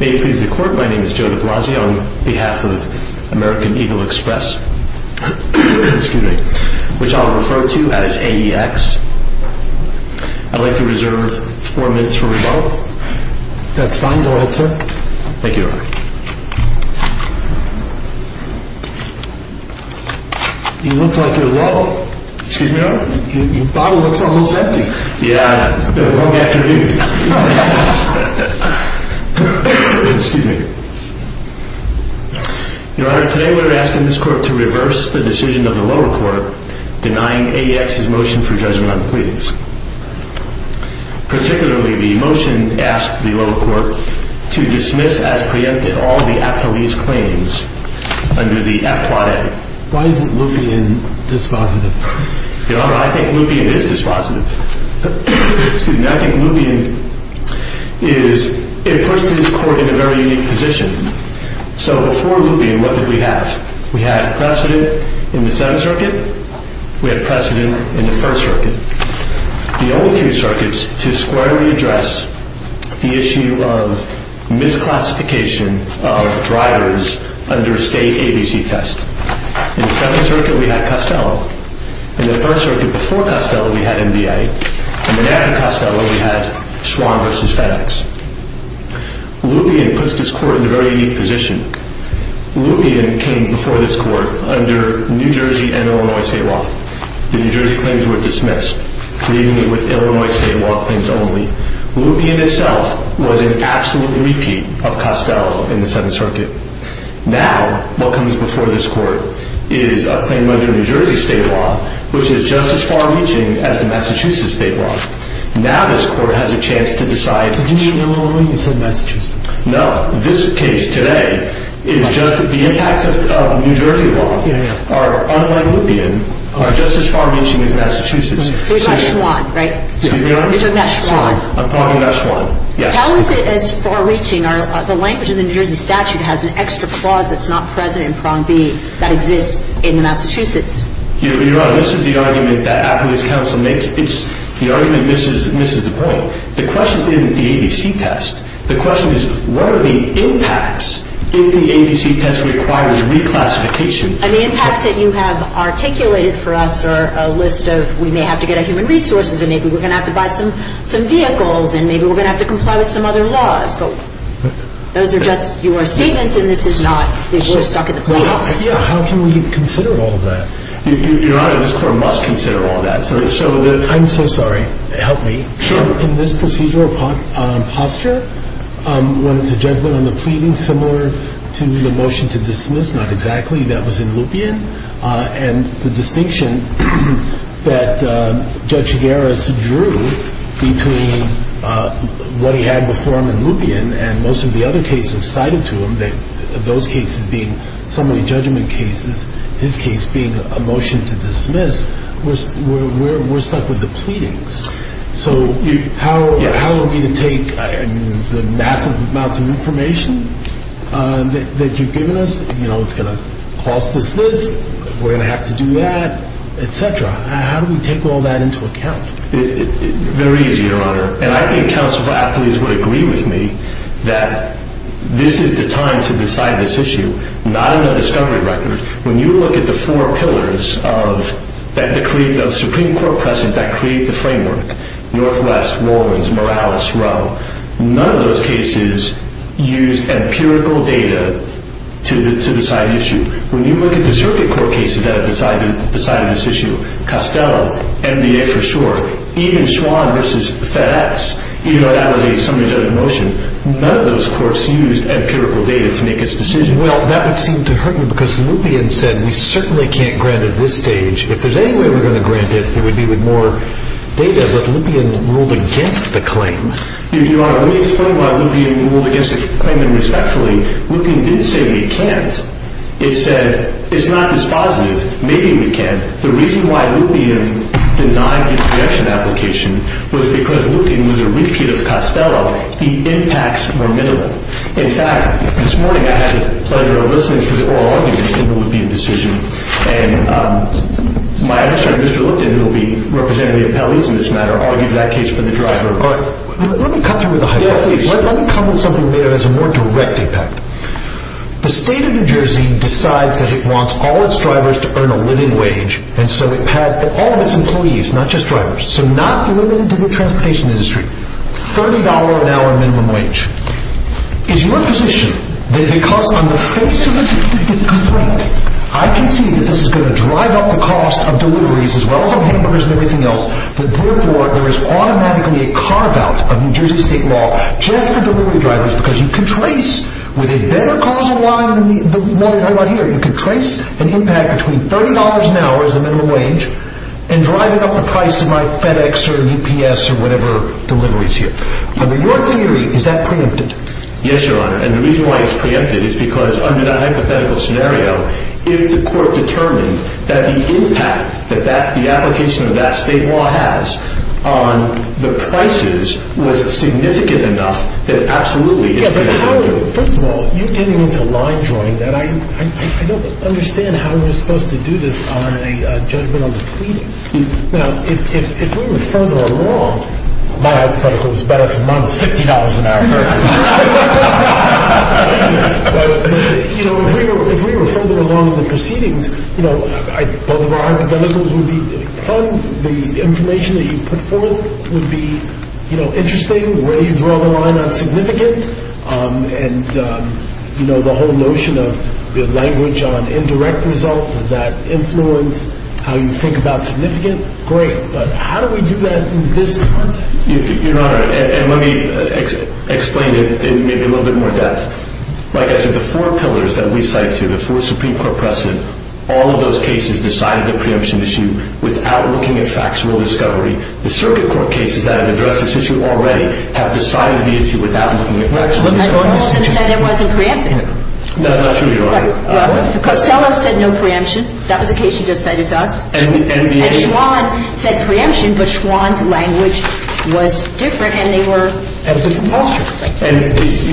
May it please the Court, my name is Joe de Blasio on behalf of American Eagle Express, which I'll refer to as AEX. I'd like to reserve four minutes for rebuttal. That's fine, go ahead sir. Thank you, Your Honor. You look like you're low. Excuse me, Your Honor? Your bottle looks almost empty. Yeah, it's been a long afternoon. Your Honor, today we're asking this Court to reverse the decision of the lower court denying AEX's motion for judgment on the pleadings. Particularly, the motion asked the lower court to dismiss as preempted all the affilies claims under the FQA. Why is it Lupien dispositive? Your Honor, I think Lupien is dispositive. Excuse me, I think Lupien is, it puts this Court in a very unique position. So before Lupien, what did we have? We had precedent in the Seventh Circuit, we had precedent in the First Circuit. The only two circuits to squarely address the issue of misclassification of drivers under a state ABC test. In the Seventh Circuit, we had Costello. In the First Circuit, before Costello, we had MBA. And then after Costello, we had Schwann v. FedEx. Lupien puts this Court in a very unique position. Lupien came before this Court under New Jersey and Illinois state law. The New Jersey claims were dismissed, leaving it with Illinois state law claims only. Lupien itself was an absolute repeat of Costello in the Seventh Circuit. Now, what comes before this Court is a claim under New Jersey state law, which is just as far-reaching as the Massachusetts state law. Now this Court has a chance to decide. Did you mean Illinois instead of Massachusetts? No, this case today is just, the impacts of New Jersey law are unlike Lupien, are just as far-reaching as Massachusetts. So you're talking about Schwann, right? You're talking about Schwann. I'm talking about Schwann, yes. How is it as far-reaching? The language of the New Jersey statute has an extra clause that's not present in Prong B that exists in the Massachusetts. You're wrong. This is the argument that Appellate's counsel makes. The argument misses the point. The question isn't the ABC test. The question is what are the impacts if the ABC test requires reclassification? And the impacts that you have articulated for us are a list of we may have to get our human resources and maybe we're going to have to buy some vehicles and maybe we're going to have to comply with some other laws. But those are just your statements and this is not, we're stuck at the playoffs. How can we consider all that? Your Honor, this Court must consider all that. I'm so sorry. Help me. Sure. In this procedure of posture, when it's a judgment on the pleading, similar to the motion to dismiss, not exactly, that was in Lupien, and the distinction that Judge Chigueras drew between what he had before him in Lupien and most of the other cases cited to him, those cases being summary judgment cases, his case being a motion to dismiss, we're stuck with the pleadings. So how are we to take the massive amounts of information that you've given us? You know, it's going to cost us this, we're going to have to do that, et cetera. How do we take all that into account? Very easy, Your Honor. And I think counsel for athletes would agree with me that this is the time to decide this issue, not on the discovery record. When you look at the four pillars of Supreme Court precedent that create the framework, Northwest, Rollins, Morales, Rowe, none of those cases used empirical data to decide an issue. When you look at the circuit court cases that have decided this issue, Costello, NBA for short, even Schwann versus FedEx, you know, that was a summary judgment motion. None of those courts used empirical data to make this decision. Well, that would seem to hurt me because Lupien said we certainly can't grant at this stage. If there's any way we're going to grant it, it would be with more data. But Lupien ruled against the claim. Your Honor, let me explain why Lupien ruled against the claim and respectfully. Lupien didn't say we can't. It said it's not dispositive, maybe we can. The reason why Lupien denied the projection application was because Lupien was a repeat of Costello. The impacts were minimal. In fact, this morning I had the pleasure of listening to the oral arguments in the Lupien decision. And my administrator, Mr. Lipton, who will be representing the appellees in this matter, argued that case for the driver. Let me cut through with the hypothesis. Let me come to something that has a more direct impact. The state of New Jersey decides that it wants all its drivers to earn a living wage, and so it had all of its employees, not just drivers, so not limited to the transportation industry, $30 an hour minimum wage. Is your position that because on the face of the complaint, I can see that this is going to drive up the cost of deliveries, as well as on hamburgers and everything else, that therefore there is automatically a carve-out of New Jersey state law just for delivery drivers, because you can trace, with a better causal line than the one we're talking about here, you can trace an impact between $30 an hour as the minimum wage and driving up the price of FedEx or UPS or whatever deliveries here. Under your theory, is that preempted? Yes, Your Honor, and the reason why it's preempted is because under that hypothetical scenario, if the court determined that the impact that the application of that state law has on the prices was significant enough, then it absolutely is preempted. First of all, you're getting into line-drawing. I don't understand how you're supposed to do this on a judgment on the pleading. Now, if we were further along... My hypothetical is better, because mine is $50 an hour. If we were further along in the proceedings, both of our hypotheticals would be fun. The information that you put forth would be interesting. Where do you draw the line on significant? And the whole notion of the language on indirect result, does that influence how you think about significant? Great, but how do we do that in this context? Your Honor, and let me explain it in a little bit more depth. Like I said, the four pillars that we cite here, the four Supreme Court precedents, all of those cases decided the preemption issue without looking at factual discovery. The circuit court cases that have addressed this issue already have decided the issue without looking at factual discovery. But my husband said it wasn't preempted. That's not true, Your Honor. Cosello said no preemption. That was a case he just cited to us. And Schwan said preemption, but Schwan's language was different, and they were... That was a different posture. And,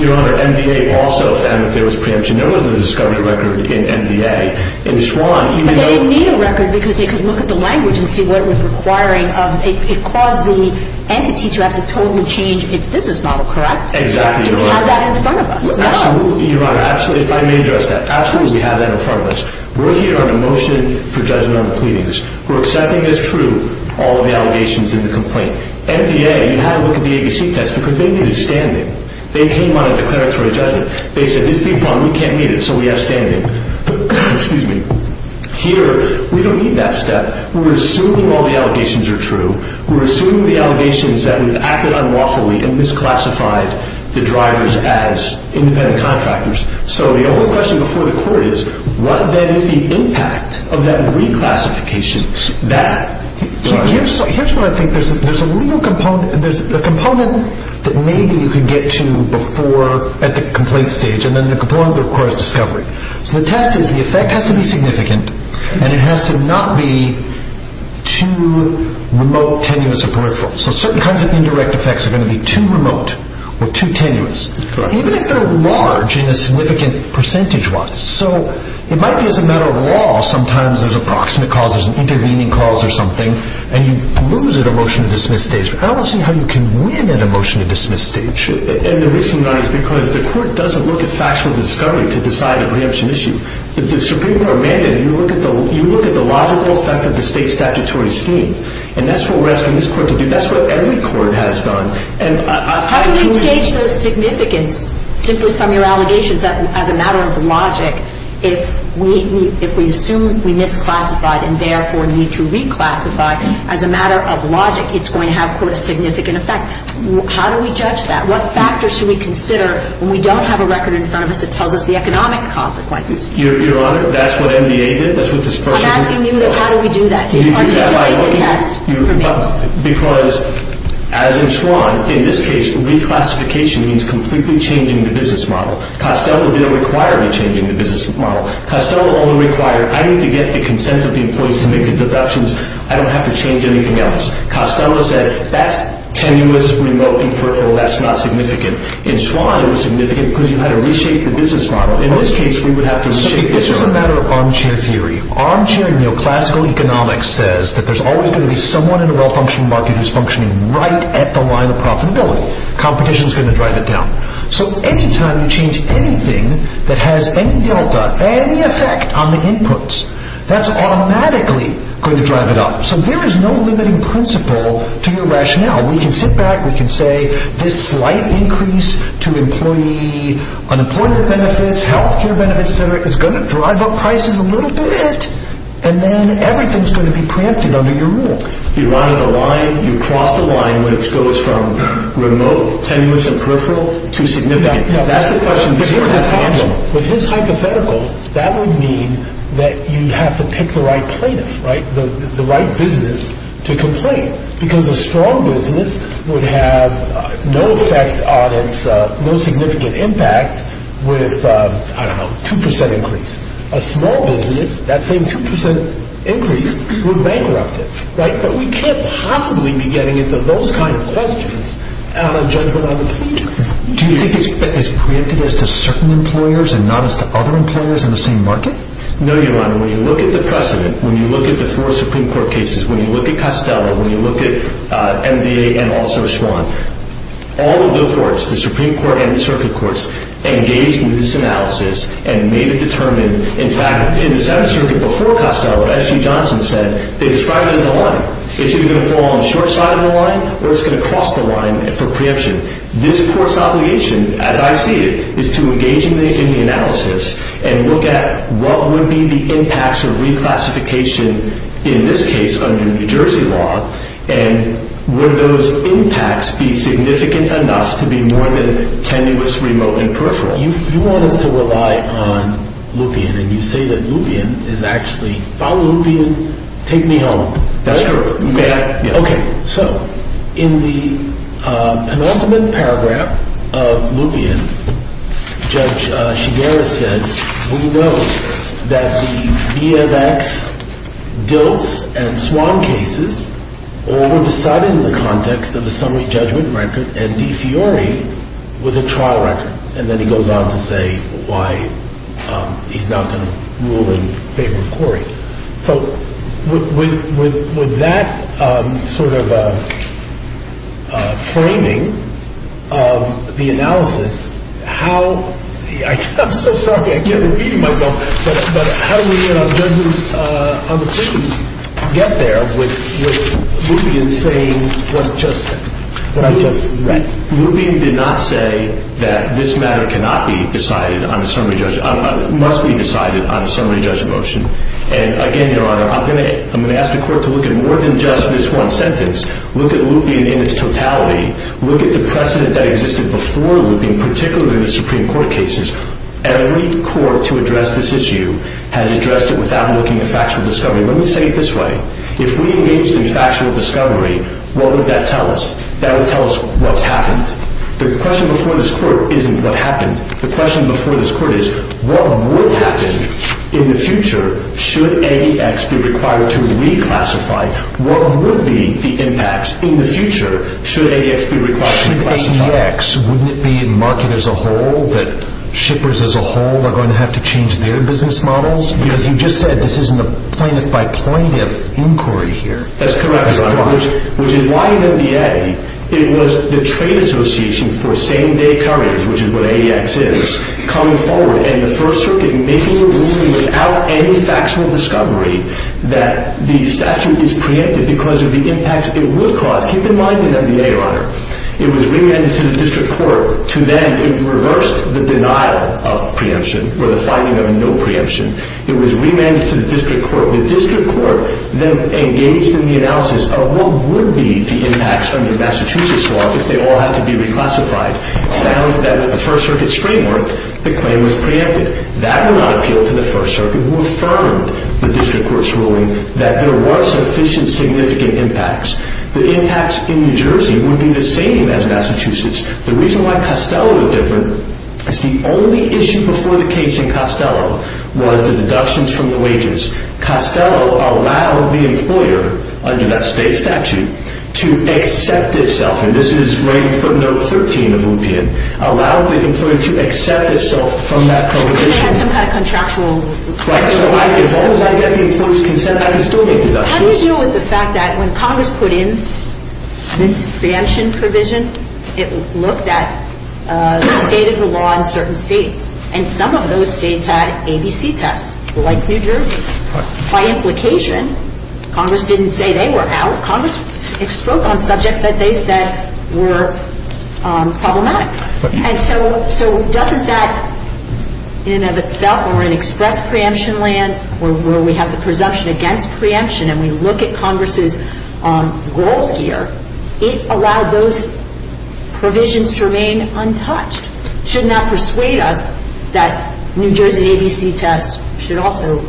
Your Honor, MDA also found that there was preemption. There was a discovery record in MDA. In Schwan, even though... But they didn't need a record, because they could look at the language and see what it was requiring of... It caused the entity to have to totally change its business model, correct? Exactly, Your Honor. Do we have that in front of us? No. Absolutely, Your Honor. Absolutely, if I may address that. Absolutely, we have that in front of us. We're here on a motion for judgment on the pleadings. We're accepting as true all of the allegations in the complaint. MDA, you had to look at the ABC test, because they needed standing. They came on a declaratory judgment. They said, it's a big bond. We can't meet it, so we have standing. But, excuse me, here, we don't need that step. We're assuming all the allegations are true. We're assuming the allegations that we've acted unlawfully and misclassified the drivers as independent contractors. So the only question before the court is, what, then, is the impact of that reclassification? Here's what I think. There's a legal component. There's a component that maybe you could get to at the complaint stage, and then the component that requires discovery. So the test is, the effect has to be significant, and it has to not be too remote, tenuous, or peripheral. So certain kinds of indirect effects are going to be too remote or too tenuous, even if they're large in a significant percentage wise. So it might be as a matter of law, sometimes there's a proximate cause, there's an intervening cause or something, and you lose at a motion-to-dismiss stage. I don't see how you can win at a motion-to-dismiss stage. And the reason why is because the court doesn't look at factual discovery to decide a preemption issue. With the Supreme Court mandate, you look at the logical effect of the state statutory scheme, and that's what we're asking this court to do. That's what every court has done. How do we gauge those significance simply from your allegations that as a matter of logic, if we assume we misclassified and therefore need to reclassify, as a matter of logic, it's going to have, quote, a significant effect? How do we judge that? What factors should we consider when we don't have a record in front of us that tells us the economic consequences? Your Honor, that's what NDA did. I'm asking you how do we do that? Because, as in Schwann, in this case, reclassification means completely changing the business model. Costello didn't require you changing the business model. Costello only required, I need to get the consent of the employees to make the deductions. I don't have to change anything else. Costello said, that's tenuous, remote, and peripheral. That's not significant. In Schwann, it was significant because you had to reshape the business model. In this case, we would have to reshape the model. This is a matter of armchair theory. Armchair neoclassical economics says that there's always going to be someone in a well-functioning market who's functioning right at the line of profitability. Competition is going to drive it down. So, any time you change anything that has any delta, any effect on the inputs, that's automatically going to drive it up. So, there is no limiting principle to your rationale. We can sit back, we can say, this slight increase to employee unemployment benefits, health care benefits, et cetera, is going to drive up prices a little bit, and then everything's going to be preempted under your rule. You run at the line, you cross the line, which goes from remote, tenuous, and peripheral to significant. That's the question. With his hypothetical, that would mean that you'd have to pick the right plaintiff, right? The right business to complain. Because a strong business would have no effect on its, no significant impact with, I don't know, 2% increase. A small business, that same 2% increase would bankrupt it, right? But we can't possibly be getting into those kind of questions out on a gentleman on the plane. Do you think it's preempted as to certain employers and not as to other employers in the same market? No, Your Honor. When you look at the precedent, when you look at the four Supreme Court cases, when you look at Costello, when you look at MBA and also Schwann, all of the courts, the Supreme Court and the circuit courts, engaged in this analysis and made it determined. In fact, in the Senate circuit before Costello, what S.G. Johnson said, they described it as a line. It's either going to fall on the short side of the line or it's going to cross the line for preemption. This court's obligation, as I see it, is to engage in the analysis and look at what would be the impacts of reclassification, in this case, under New Jersey law, and would those impacts be significant enough to be more than tenuous, remote, and peripheral? You want us to rely on Lupien, and you say that Lupien is actually... If I'm Lupien, take me home. That's correct. Okay. So, in the penultimate paragraph of Lupien, Judge Shigeru says, we know that the BMX, DILTS, and SWAN cases all were decided in the context of a summary judgment record, and De Fiori was a trial record. And then he goes on to say why he's not going to rule in favor of Corey. So, with that sort of framing of the analysis, how... I'm so sorry. I can't repeat it myself. But how do we, on the two, get there with Lupien saying what I just read? Lupien did not say that this matter cannot be decided on a summary judgment... must be decided on a summary judgment motion. And, again, Your Honor, I'm going to ask the court to look at more than just this one sentence. Look at Lupien in its totality. Look at the precedent that existed before Lupien, particularly in the Supreme Court cases. Every court to address this issue has addressed it without looking at factual discovery. Let me say it this way. If we engaged in factual discovery, what would that tell us? That would tell us what's happened. The question before this court isn't what happened. The question before this court is, what would happen in the future should AX be required to reclassify? What would be the impacts in the future should AX be required to reclassify? Should AX... Wouldn't it be in the market as a whole that shippers as a whole are going to have to change their business models? Because you just said this isn't a plaintiff-by-plaintiff inquiry here. That's correct, Your Honor. Which is why in NDA it was the Trade Association for Same-Day Couriers, which is what AX is, coming forward in the First Circuit making a ruling without any factual discovery that the statute is preempted because of the impacts it would cause. Keep in mind that in NDA, Your Honor, it was remanded to the district court to then... It reversed the denial of preemption or the finding of no preemption. It was remanded to the district court. The district court then engaged in the analysis of what would be the impacts under Massachusetts law if they all had to be reclassified, found that with the First Circuit's framework the claim was preempted. That would not appeal to the First Circuit who affirmed the district court's ruling that there were sufficient significant impacts. The impacts in New Jersey would be the same as Massachusetts. The reason why Costello is different is the only issue before the case in Costello was the deductions from the wages. Costello allowed the employer, under that state statute, to accept itself, and this is writing footnote 13 of Lupien, allowed the employer to accept itself from that prohibition. Because they had some kind of contractual... Right, so as long as I get the employer's consent I can still make deductions. How do you deal with the fact that when Congress put in this preemption provision it looked at the state of the law in certain states and some of those states had ABC tests, like New Jersey's. By implication, Congress didn't say they were out. Congress spoke on subjects that they said were problematic. And so doesn't that in and of itself, when we're in express preemption land where we have the presumption against preemption and we look at Congress's role here, it allowed those provisions to remain untouched. Shouldn't that persuade us that New Jersey's ABC test should also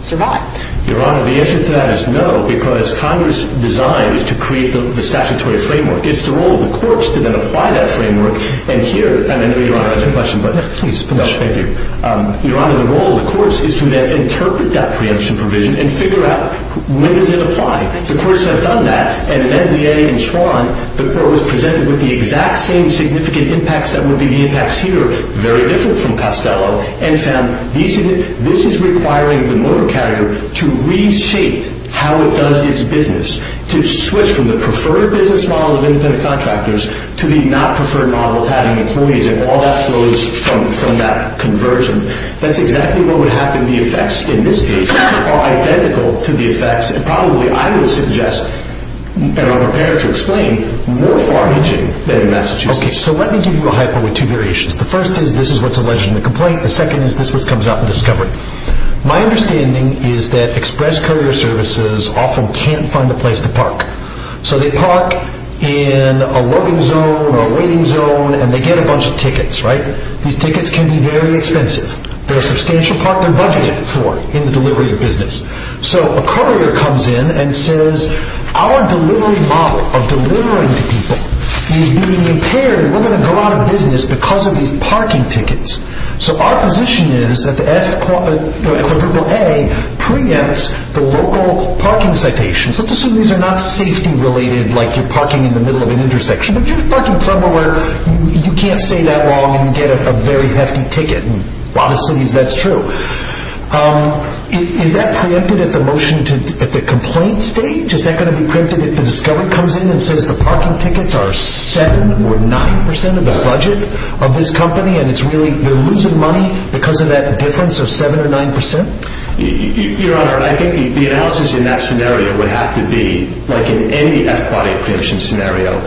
survive? Your Honor, the answer to that is no because Congress' design is to create the statutory framework. It's the role of the courts to then apply that framework and here... Your Honor, I have a question, but... Please, finish. No, thank you. Your Honor, the role of the courts is to then interpret that preemption provision and figure out when does it apply. The courts have done that and in NDA and Schwann, the court was presented with the exact same significant impacts that would be the impacts here, very different from Costello, and found this is requiring the motor carrier to reshape how it does its business, to switch from the preferred business model of independent contractors to the not preferred model of having employees and all that flows from that conversion. That's exactly what would happen. The effects in this case are identical to the effects and probably, I would suggest, and I'm prepared to explain, more far-reaching than in Massachusetts. Okay, so let me give you a hypo with two variations. The first is this is what's alleged in the complaint. The second is this is what comes out in discovery. My understanding is that express courier services often can't find a place to park. So they park in a loading zone or a waiting zone and they get a bunch of tickets, right? These tickets can be very expensive. They're a substantial part they're budgeting for in the delivery of business. So a courier comes in and says, our delivery model of delivering to people is being impaired and we're going to go out of business because of these parking tickets. So our position is that the FAA preempts the local parking citations. Let's assume these are not safety-related, like you're parking in the middle of an intersection, but you're parking somewhere where you can't stay that long and get a very hefty ticket. In a lot of cities that's true. Is that preempted at the complaint stage? Is that going to be preempted if the discovery comes in and says the parking tickets are 7% or 9% of the budget of this company and they're losing money because of that difference of 7% or 9%? Your Honor, I think the analysis in that scenario would have to be like in any FAA preemption scenario.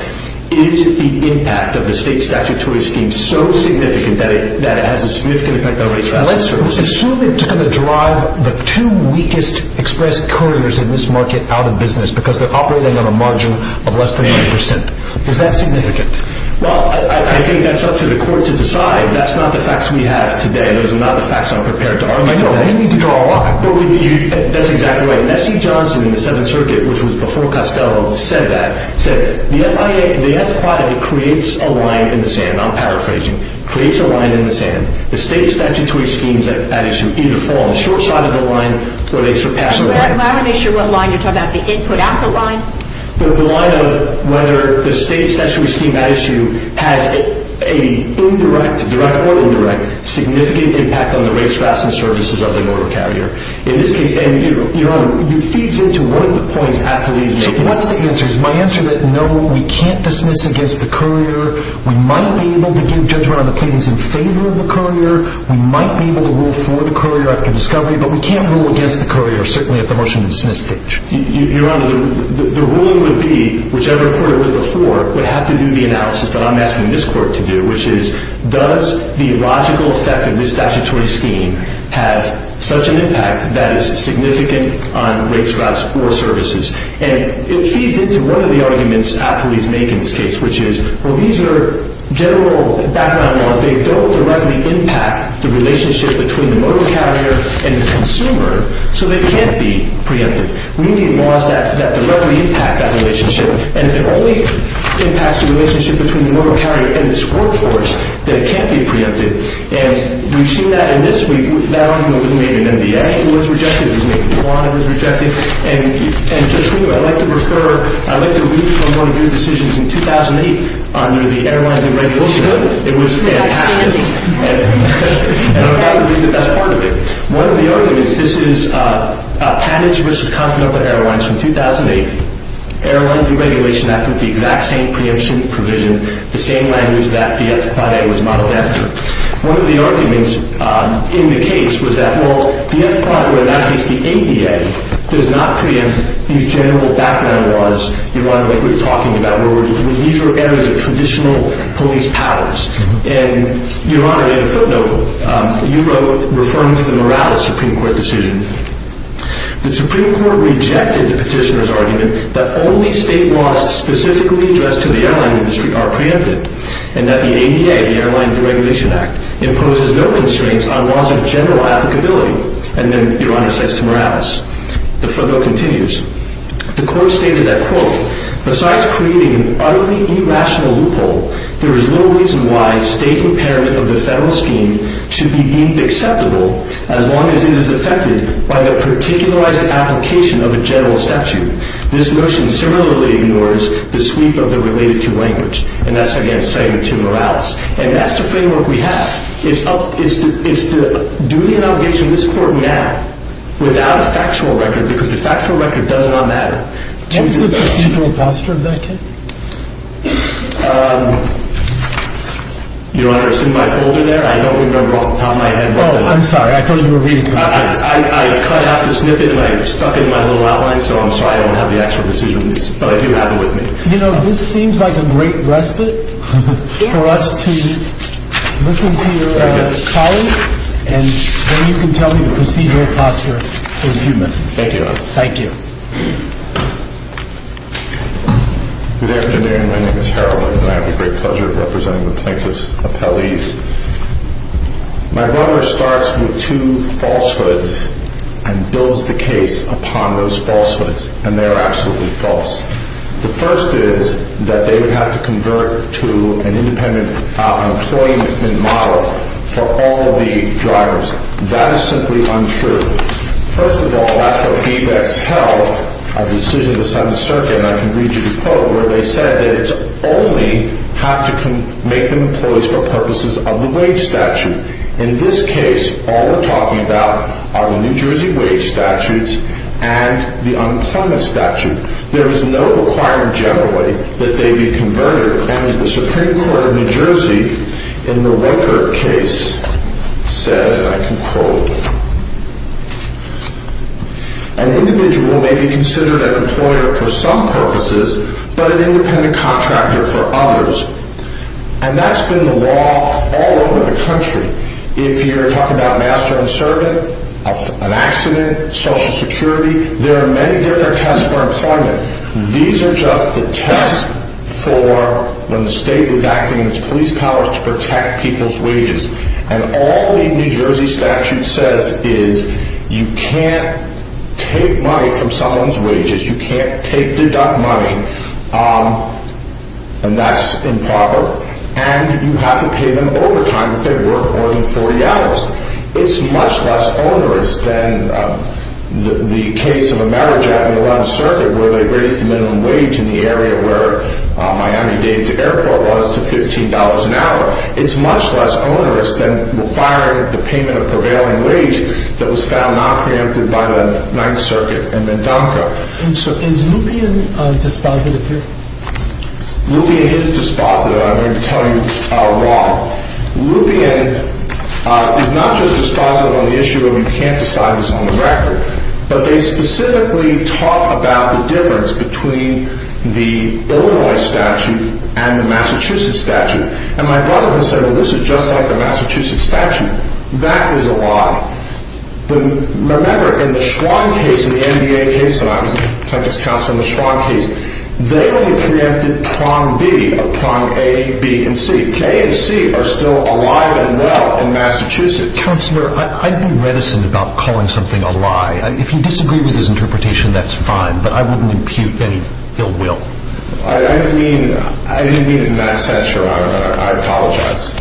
Is the impact of the state statutory scheme so significant that it has a significant effect on the rates of access to services? Let's assume it's going to drive the two weakest express couriers in this market out of business because they're operating on a margin of less than 5%. Is that significant? Well, I think that's up to the court to decide. That's not the facts we have today. Those are not the facts I'm prepared to argue. I know, but you need to draw a line. That's exactly right. Nessie Johnson in the Seventh Circuit, which was before Costello, said that. The FAA creates a line in the sand. I'm paraphrasing. Creates a line in the sand. The state statutory schemes at issue either fall on the short side of the line or they surpass the line. I'm not really sure what line you're talking about. The input-output line? The line of whether the state statutory scheme at issue has an indirect, direct or indirect, significant impact on the rates, fares, and services of the motor carrier. In this case, your Honor, it feeds into one of the points Atkelee's making. What's the answer? My answer is no. We can't dismiss against the courier. We might be able to give judgment on the pleadings in favor of the courier. We might be able to rule for the courier after discovery, but we can't rule against the courier, certainly at the motion-and-dismiss stage. Your Honor, the ruling would be, whichever court it were before, would have to do the analysis that I'm asking this court to do, which is, does the logical effect of this statutory scheme have such an impact that it's significant on rates, fares, or services? And it feeds into one of the arguments Atkelee's making in this case, which is, well, these are general background laws. They don't directly impact the relationship between the motor carrier and the consumer, so they can't be preempted. We need laws that directly impact that relationship. And if it only impacts the relationship between the motor carrier and its workforce, then it can't be preempted. And we've seen that in this week. There was maybe a law that was rejected. And just for you, I'd like to refer... I'd like to read from one of your decisions in 2008 under the Airline Deregulation Act. It was fantastic. And I'd like to read the best part of it. One of the arguments... This is Panage v. Continental Airlines from 2008. Airline Deregulation Act with the exact same preemption provision, the same language that the F.A.A. was modeled after. One of the arguments in the case was that, well, the F.A.A., or in that case, the ADA, does not preempt these general background laws, Your Honor, like we were talking about, where we're in these areas of traditional police powers. And, Your Honor, in a footnote, you wrote, referring to the Morales Supreme Court decision, the Supreme Court rejected the petitioner's argument that only state laws specifically addressed to the airline industry are preempted and that the ADA, the Airline Deregulation Act, imposes no constraints on laws of general applicability. And then, Your Honor, it says to Morales. The footnote continues. The court stated that, quote, besides creating an utterly irrational loophole, there is no reason why state impairment of the federal scheme should be deemed acceptable as long as it is affected by the particularized application of a general statute. This notion similarly ignores the sweep of the related to language. And that's, again, saying to Morales. And that's the framework we have. It's the duty and obligation of this court now without a factual record, because the factual record does not matter. What was the procedural posture of that case? Um... Your Honor, it's in my folder there. I don't remember off the top of my head. Oh, I'm sorry. I thought you were reading the case. I cut out the snippet and I stuck it in my little outline, so I'm sorry I don't have the actual decision, but I do have it with me. You know, this seems like a great respite for us to listen to your colleague, and then you can tell me the procedural posture in a few minutes. Thank you, Your Honor. Thank you. Good afternoon. My name is Harold, and I have the great pleasure of representing the plaintiff's appellees. My brother starts with two falsehoods and builds the case upon those falsehoods, and they are absolutely false. The first is that they would have to convert to an independent employee model for all of the drivers. That is simply untrue. First of all, that's what Beebex held at the decision of the Seventh Circuit, and I can read you the quote, where they said that it's only how to make them employees for purposes of the wage statute. In this case, all we're talking about are the New Jersey wage statutes and the unemployment statute. There is no requirement generally that they be converted, and the Supreme Court of New Jersey in the Roker case said, and I can quote, an individual may be considered an employer for some purposes, but an independent contractor for others. And that's been the law all over the country. If you're talking about master and servant, an accident, Social Security, there are many different tests for employment. These are just the tests for when the state is acting in its police powers to protect people's wages. And all the New Jersey statute says is you can't take money from someone's wages, you can't take deduct money, and that's improper, and you have to pay them overtime if they work more than 40 hours. It's much less onerous than the case of a marriage act in the 11th Circuit where they raised the minimum wage in the area where Miami-Dade's airport was to $15 an hour. It's much less onerous than requiring the payment of prevailing wage that was found not preempted by the 9th Circuit and MnDONCA. And so is Lupien dispositive here? Lupien is dispositive. I'm going to tell you wrong. Lupien is not just dispositive on the issue of you can't decide this on the record, but they specifically talk about the difference between the Illinois statute and the Massachusetts statute. And my brother can say, well, this is just like the Massachusetts statute. That is a lie. Remember, in the Schwann case, in the NDA case, and I was the plaintiff's counsel in the Schwann case, they only preempted prong B of prong A, B, and C. K and C are still alive and well in Massachusetts. Counselor, I'd be reticent about calling something a lie. If you disagree with his interpretation, that's fine, but I wouldn't impute any ill will. I didn't mean it in that sense, or I apologize.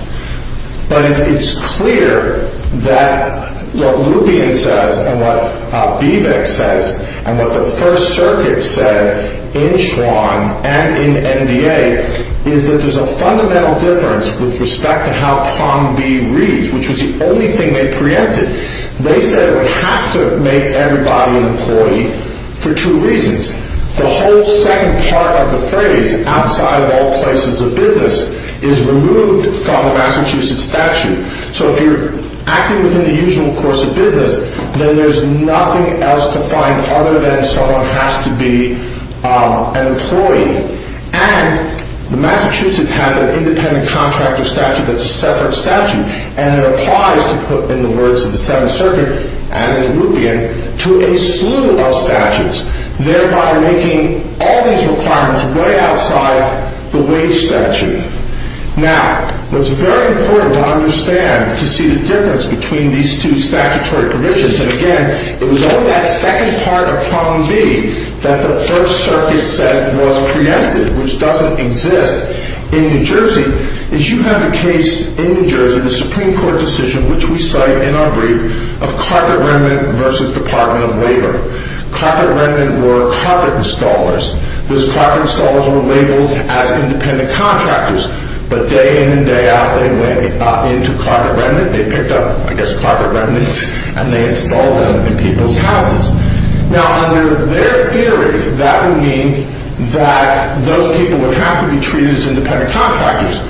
But it's clear that what Lupien says and what Vivek says and what the First Circuit said in Schwann and in NDA is that there's a fundamental difference with respect to how prong B reads, which was the only thing they preempted. They said it would have to make everybody an employee for two reasons. The whole second part of the phrase, outside of all places of business, is removed from the Massachusetts statute. So if you're acting within the usual course of business, then there's nothing else to find other than someone has to be an employee. And the Massachusetts has an independent contractor statute that's a separate statute, and it applies, to put in the words of the Seventh Circuit and in Lupien, to a slew of statutes, thereby making all these requirements way outside the wage statute. Now, it's very important to understand to see the difference between these two statutory provisions. And again, it was only that second part of prong B that the First Circuit said was preempted, which doesn't exist in New Jersey. What you have in New Jersey is you have a case in New Jersey, a Supreme Court decision, which we cite in our brief, of carpet remnant versus Department of Labor. Carpet remnant were carpet installers. Those carpet installers were labeled as independent contractors. But day in and day out, they went into carpet remnant. They picked up, I guess, carpet remnants, and they installed them in people's houses. Now, under their theory, that would mean that those people would have to be treated as independent contractors.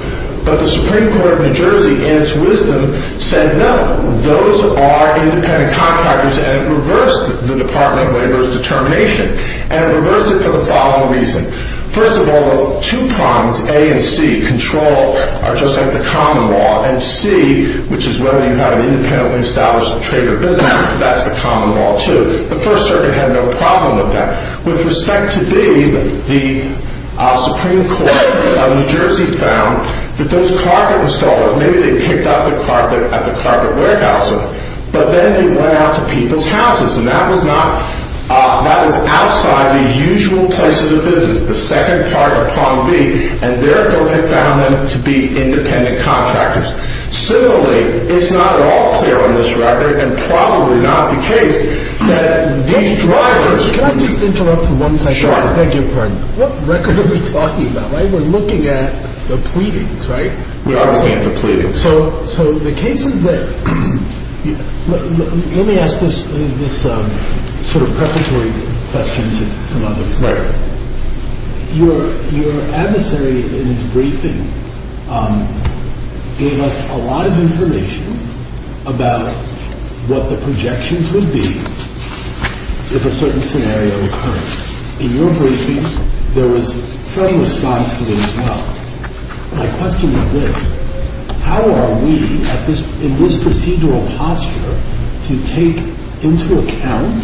But the Supreme Court of New Jersey, in its wisdom, said no. Those are independent contractors, and it reversed the Department of Labor's determination. And it reversed it for the following reason. First of all, the two prongs, A and C, control are just like the common law, and C, which is whether you have an independently established trade or business, that's the common law, too. The First Circuit had no problem with that. With respect to B, the Supreme Court of New Jersey found that those carpet installers, maybe they picked up the carpet at the carpet warehouse, but then they went out to people's houses, and that was outside the usual places of business, the second part of prong B, and therefore they found them to be independent contractors. Similarly, it's not at all clear on this record, and probably not the case, that these drivers... Can I just interrupt for one second? Sure. What record are we talking about? We're looking at the pleadings, right? We are looking at the pleadings. So the cases that... Let me ask this sort of preparatory question Right. Your adversary in his briefing gave us a lot of information about what the projections would be if a certain scenario occurred. In your briefing, there was some response to this as well. My question is this. How are we, in this procedural posture, to take into account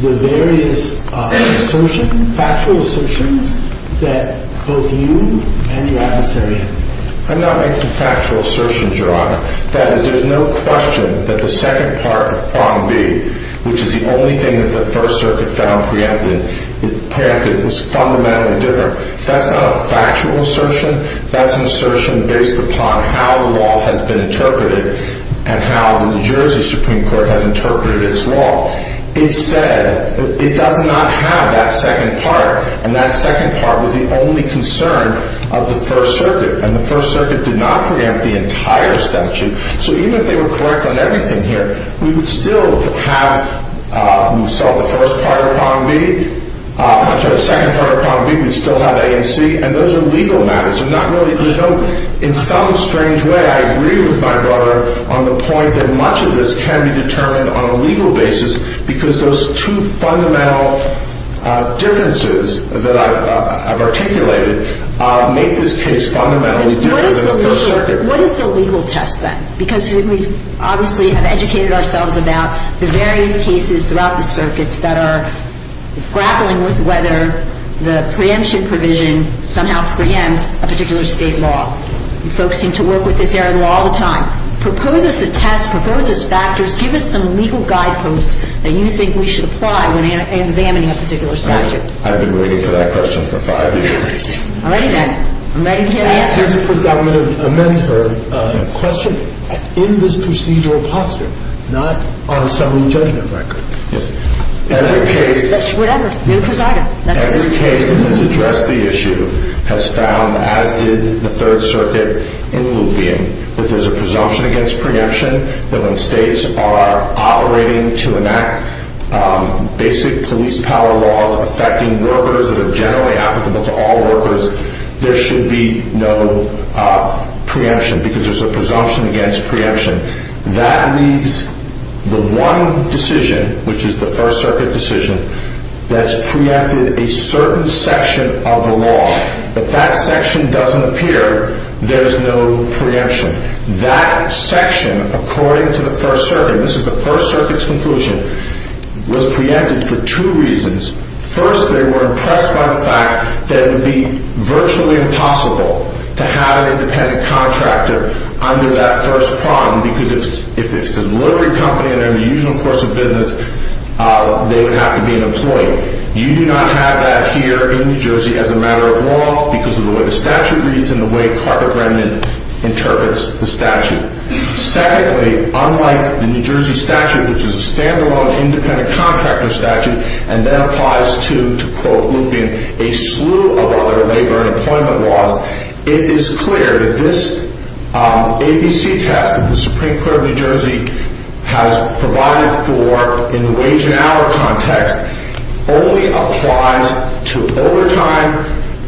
the various assertions, factual assertions, that both you and your adversary... I'm not making factual assertions, Your Honor. That is, there's no question that the second part of prong B, which is the only thing that the First Circuit found preempted, it was fundamentally different. That's not a factual assertion. That's an assertion based upon how the law has been interpreted and how the New Jersey Supreme Court has interpreted its law. It said it does not have that second part, and that second part was the only concern of the First Circuit, and the First Circuit did not preempt the entire statute. So even if they were correct on everything here, we would still have... We saw the first part of prong B, much of the second part of prong B, we'd still have A and C, and those are legal matters. There's not really... In some strange way, I agree with my brother on the point that much of this can be determined on a legal basis because those two fundamental differences that I've articulated make this case fundamentally different than the First Circuit. What is the legal test then? Because we obviously have educated ourselves about the various cases throughout the circuits that are grappling with whether the preemption provision somehow preempts a particular state law. Folks seem to work with this error law all the time. Propose us a test, propose us factors, give us some legal guideposts that you think we should apply when examining a particular statute. I've been waiting for that question for five years. I'm ready, Ben. I'm ready to hear the answer. Just to amend her question, in this procedural posture, not on a summary judgment record... Yes. Every case... Whatever. Every case that has addressed the issue has found, as did the Third Circuit in Lupien, that there's a presumption against preemption that when states are operating to enact basic police power laws affecting workers that are generally applicable to all workers, there should be no preemption because there's a presumption against preemption. That leaves the one decision, which is the First Circuit decision, that's preempted a certain section of the law. If that section doesn't appear, there's no preemption. That section, according to the First Circuit, this is the First Circuit's conclusion, was preempted for two reasons. First, they were impressed by the fact that it would be virtually impossible to have an independent contractor under that first prong because if it's a delivery company and they're in the usual course of business, they would have to be an employee. You do not have that here in New Jersey as a matter of law because of the way the statute reads and the way Carter Brennan interprets the statute. Secondly, unlike the New Jersey statute, which is a standalone independent contractor statute and then applies to, to quote Lupien, a slew of other labor and employment laws, it is clear that this ABC test that the Supreme Court of New Jersey has provided for in the wage and hour context only applies to overtime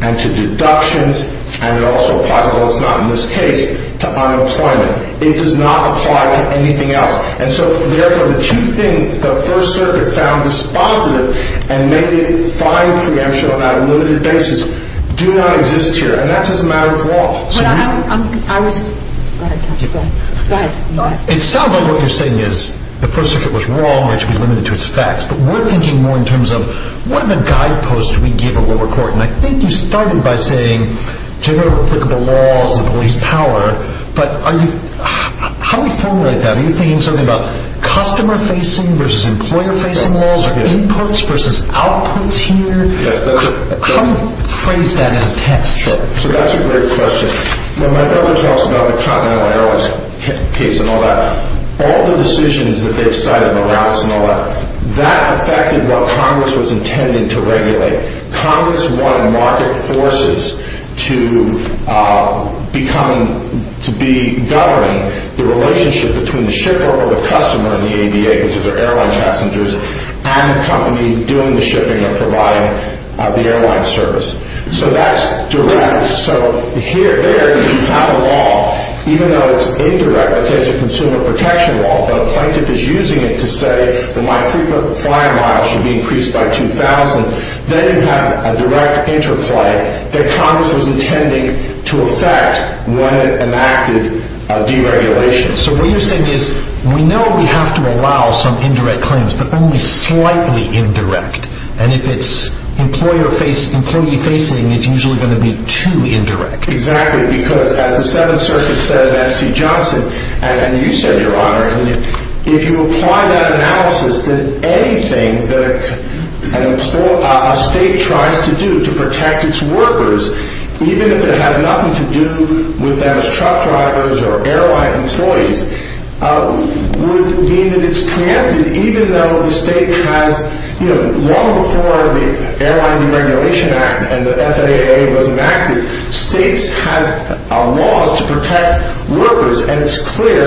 and to deductions and it also applies, although it's not in this case, to unemployment. It does not apply to anything else. And so, therefore, the two things that the First Circuit found dispositive and made it fine preemption on that limited basis do not exist here and that's as a matter of law. It sounds like what you're saying is the First Circuit was wrong and it should be limited to its facts but we're thinking more in terms of what are the guideposts we give a lower court and I think you started by saying general applicable laws and police power but how do we formulate that? Are you thinking something about customer-facing versus employer-facing laws or inputs versus outputs here? How do you phrase that as a test? So that's a great question. When my brother talks about the Continental Airlines case and all that, all the decisions that they've cited, the routes and all that, that affected what Congress was intending to regulate. Congress wanted market forces to become, to be governing the relationship between the shipper or the customer in the ABA, which is their airline passengers, and the company doing the shipping or providing the airline service. So that's direct. So there, if you have a law, even though it's indirect, let's say it's a consumer protection law, but a plaintiff is using it to say that my frequent flying miles should be increased by 2,000, then you have a direct interplay that Congress was intending to affect when it enacted deregulation. So what you're saying is, we know we have to allow some indirect claims, but only slightly indirect. And if it's employee-facing, it's usually going to be too indirect. Exactly, because as the 7th Circuit said, SC Johnson, and you said, Your Honor, if you apply that analysis, then anything that a state tries to do to protect its workers, even if it has nothing to do with them as truck drivers or airline employees, would mean that it's preempted, even though the state has... Long before the Airline Deregulation Act and the FAA was enacted, states had laws to protect workers, and it's clear,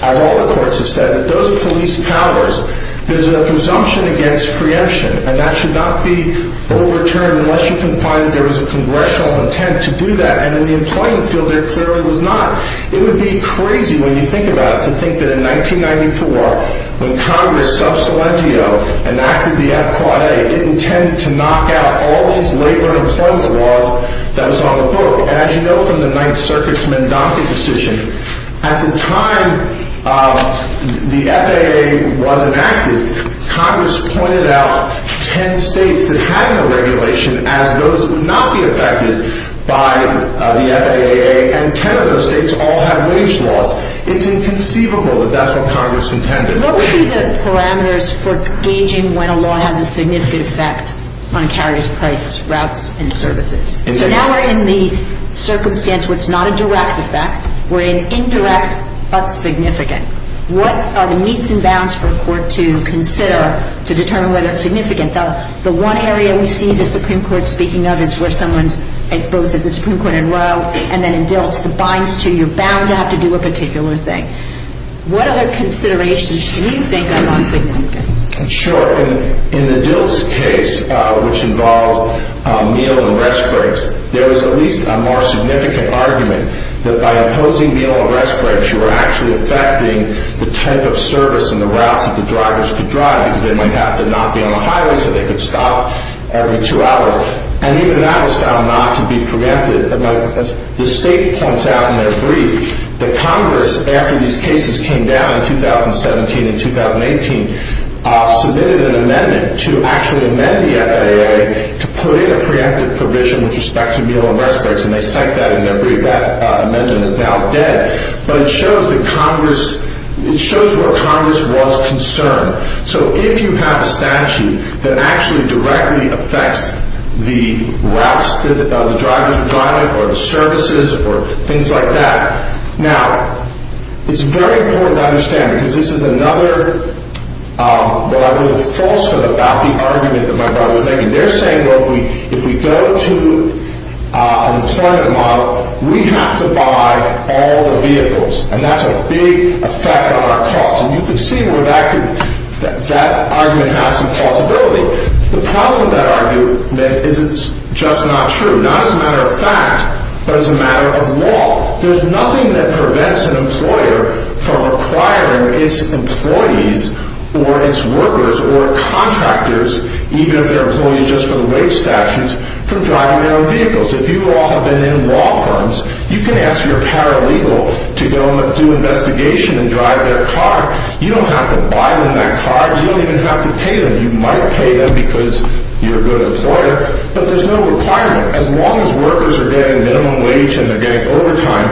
as all the courts have said, that those are police powers. There's a presumption against preemption, and that should not be overturned unless you can find that there was a congressional intent to do that. And in the employment field, there clearly was not. It would be crazy when you think about it to think that in 1994, when Congress, sub salentio, enacted the FQAA, it intended to knock out all these labor and employment laws that was on the book. And as you know from the 9th Circuit's MnDOTA decision, at the time the FAA was enacted, Congress pointed out 10 states that had no regulation as those that would not be affected by the FAA, and 10 of those states all had wage laws. It's inconceivable that that's what Congress intended. What would be the parameters for gauging when a law has a significant effect on a carrier's price, routes, and services? So now we're in the circumstance where it's not a direct effect. We're in indirect but significant. What are the meets and bounds for a court to consider to determine whether it's significant? The one area we see the Supreme Court speaking of is where someone's, both at the Supreme Court and Roe, and then in DILTS, the binds to you're bound to have to do a particular thing. What other considerations do you think are not significant? Sure. In the DILTS case, which involves meal and rest breaks, there is at least a more significant argument that by imposing meal and rest breaks you are actually affecting the type of service and the routes that the drivers could drive because they might have to not be on the highway so they could stop every two hours. And even that was found not to be preempted. The state points out in their brief that Congress, after these cases came down in 2017 and 2018, submitted an amendment to actually amend the FAA to put in a preemptive provision with respect to meal and rest breaks, and they cite that in their brief. That amendment is now dead. But it shows that Congress, it shows where Congress was concerned. So if you have a statute that actually directly affects the routes that the drivers are driving or the services, or things like that. Now, it's very important to understand because this is another falsehood about the argument that my brother was making. They're saying, well, if we go to an employment model, we have to buy all the vehicles. And that's a big effect on our costs. And you can see where that argument has some plausibility. The problem with that argument is it's just not true. Not as a matter of fact, but as a matter of law. There's nothing that prevents an employer from requiring its employees or its workers or contractors, even if they're employees just for the wage statutes, from driving their own vehicles. If you all have been in law firms, you can ask your paralegal to go do investigation and drive their car. You don't have to buy them that car. You don't even have to pay them. You might pay them because you're a good employer, but there's no requirement. As long as workers are getting minimum wage and they're getting overtime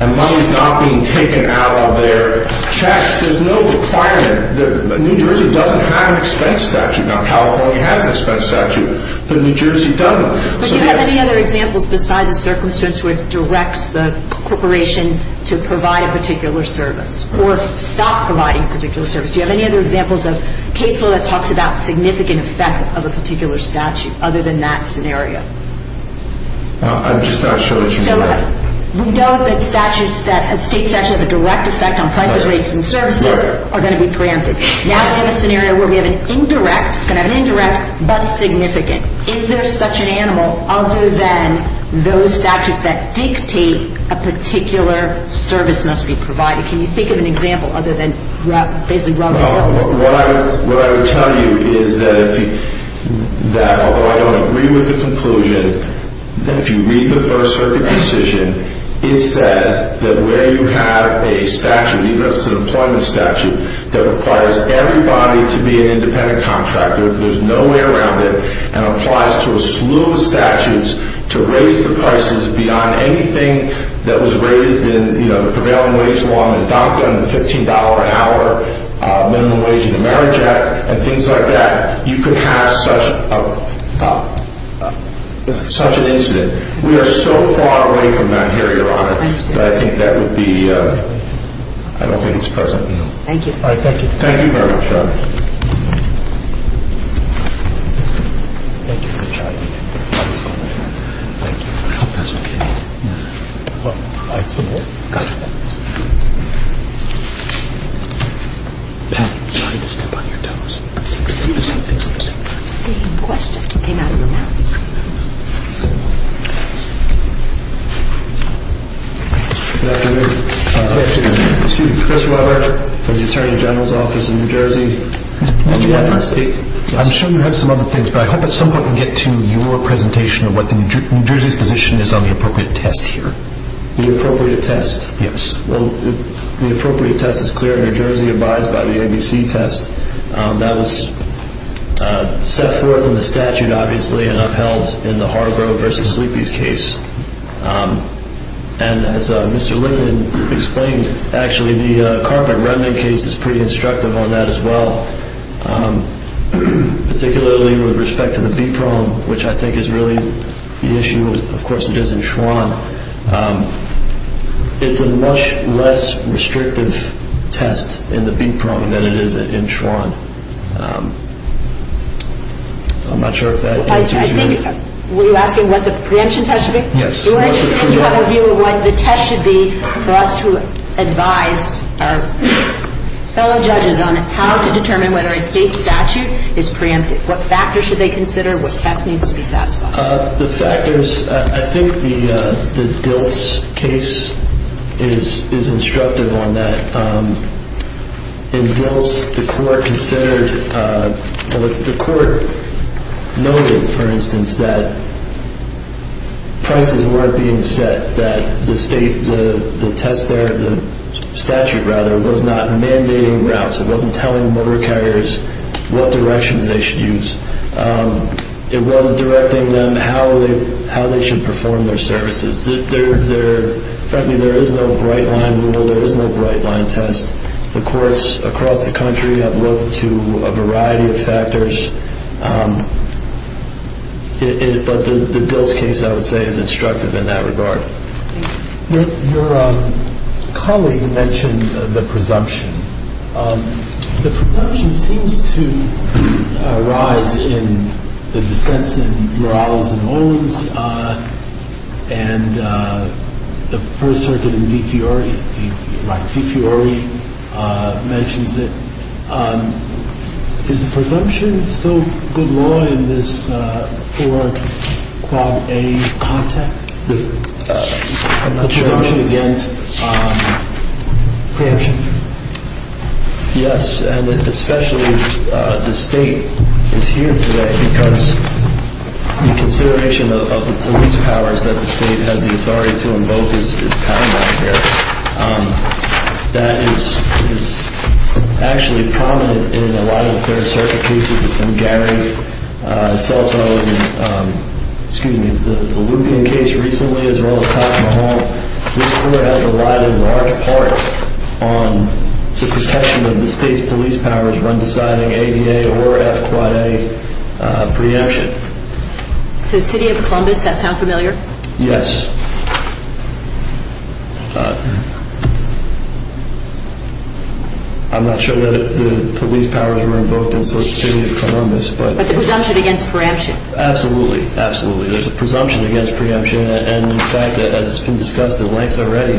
and money's not being taken out of their checks, there's no requirement. New Jersey doesn't have an expense statute. Now, California has an expense statute, but New Jersey doesn't. But do you have any other examples besides the circumstance where it directs the corporation to provide a particular service or stop providing a particular service? Do you have any other examples of case law that talks about significant effect of a particular statute other than that scenario? I'm just not sure that you know that. So we know that statutes, that states actually have a direct effect on prices, rates, and services are going to be granted. Now we have a scenario where we have an indirect, it's going to have an indirect, but significant. Is there such an animal other than those statutes that dictate a particular service must be provided? Can you think of an example other than basically robbing a house? Well, what I would tell you is that although I don't agree with the conclusion, if you read the First Circuit decision, it says that where you have a statute, even if it's an employment statute, that requires everybody to be an independent contractor, there's no way around it, and applies to a slew of statutes to raise the prices beyond anything that was raised in the prevailing wage law in MDACA and the $15 an hour minimum wage in the Marriage Act and things like that. You could have such an incident. We are so far away from that here, Your Honor, that I think that would be, I don't think it's present. Thank you. Thank you very much, Your Honor. Thank you. I hope that's okay. Yeah. Well, I have some more. Gotcha. Pat, I'm sorry to step on your toes. Excuse me. Same question. It came out of my mouth. Good afternoon. Excuse me. Excuse me. Chris Robert from the Attorney General's office in New Jersey. Mr. Roberts. I'm sure you have some other things, but I hope at some point we can get to your presentation of what New Jersey's position is on the appropriate test here. The appropriate test? Yes. Well, the appropriate test is clear. New Jersey abides by the ABC test. That was set forth in the statute, obviously, and upheld in the Hargrove v. Sleepy's case. And as Mr. Linden explained, actually, the Carpet Remnant case is pretty instructive on that as well, particularly with respect to the BPROM, which I think is really the issue. Of course, it is in Schwann. It's a much less restrictive test in the BPROM than it is in Schwann. I'm not sure if that answers your question. Were you asking what the preemption test should be? Yes. You have a view of what the test should be for us to advise our fellow judges on how to determine whether a state statute is preempted, what factors should they consider, what test needs to be satisfied? The factors. I think the Diltz case is instructive on that. In Diltz, the court considered or the court noted, for instance, that prices weren't being set, that the test there, the statute, rather, was not mandating routes. It wasn't telling motor carriers what directions they should use. It wasn't directing them how they should perform their services. Frankly, there is no bright-line rule. There is no bright-line test. The courts across the country have looked to a variety of factors. But the Diltz case, I would say, is instructive in that regard. Your colleague mentioned the presumption. The presumption seems to arise in the dissents in Morales and Owens and the First Circuit in Di Fiori. Di Fiori mentions it. Is the presumption still good law in this four-quad-a context? The presumption against... Preemption. Yes, and especially the State is here today because the consideration of the police powers that the State has the authority to invoke is paramount here. That is actually prominent in a lot of the Third Circuit cases. It's in Gary. It's also in, excuse me, the Lupien case recently, as well as Tocqueville Hall. This really has relied in large part on the protection of the State's police powers when deciding ADA or F-Quad-A preemption. So City of Columbus, does that sound familiar? Yes. I'm not sure that the police powers were invoked in City of Columbus, but... But the presumption against preemption. Absolutely, absolutely. There's a presumption against preemption. And in fact, as has been discussed in length already,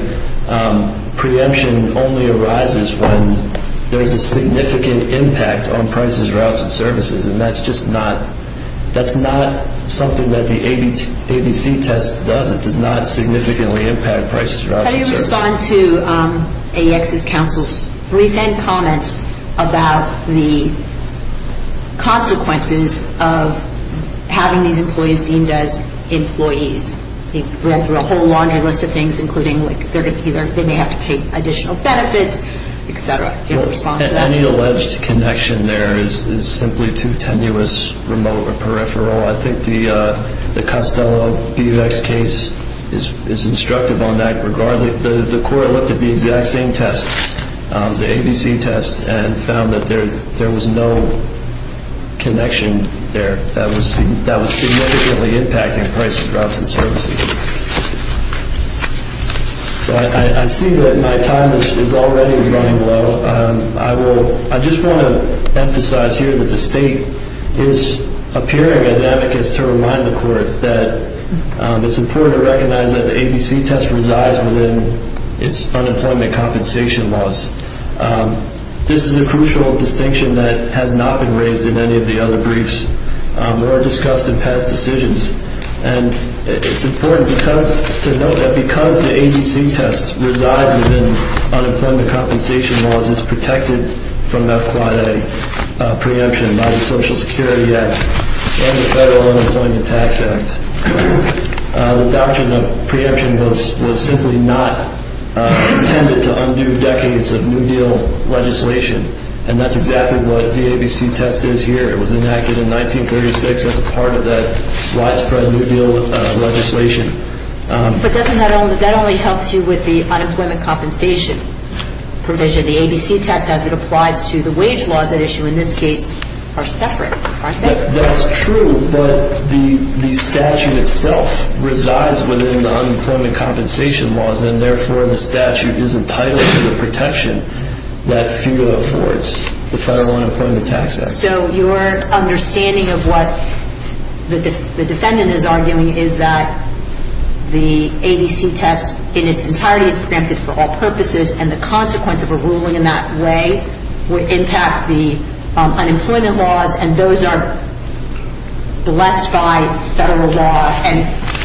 preemption only arises when there's a significant impact on prices, routes, and services. And that's just not... That's not something that the ABC test does. It does not significantly impact prices, routes, and services. How do you respond to AEX's counsel's brief and comments about the consequences of having these employees deemed as employees? They go through a whole laundry list of things, including, like, they may have to pay additional benefits, etc. Do you have a response to that? Any alleged connection there is simply too tenuous, remote, or peripheral. I think the Costello-Bevex case is instructive on that, regardless... The court looked at the exact same test, the ABC test, and found that there was no connection there that was significantly impacting prices, routes, and services. So I see that my time is already running low. I just want to emphasize here that the state is appearing as advocates to remind the court that it's important to recognize that the ABC test resides within its unemployment compensation laws. This is a crucial distinction that has not been raised in any of the other briefs or discussed in past decisions. And it's important to note that because the ABC test resides within unemployment compensation laws, it's protected from FQIA preemption by the Social Security Act and the Federal Unemployment Tax Act. The doctrine of preemption was simply not intended to undo decades of New Deal legislation, and that's exactly what the ABC test is here. It was enacted in 1936 as part of that widespread New Deal legislation. But that only helps you with the unemployment compensation provision. The ABC test, as it applies to the wage laws at issue in this case, are separate, aren't they? That's true, but the statute itself resides within the unemployment compensation laws, and therefore the statute is entitled to the protection that FQIA affords, the Federal Unemployment Tax Act. So your understanding of what the defendant is arguing is that the ABC test in its entirety is protected for all purposes, and the consequence of a ruling in that way would impact the unemployment laws, and those are blessed by federal law, and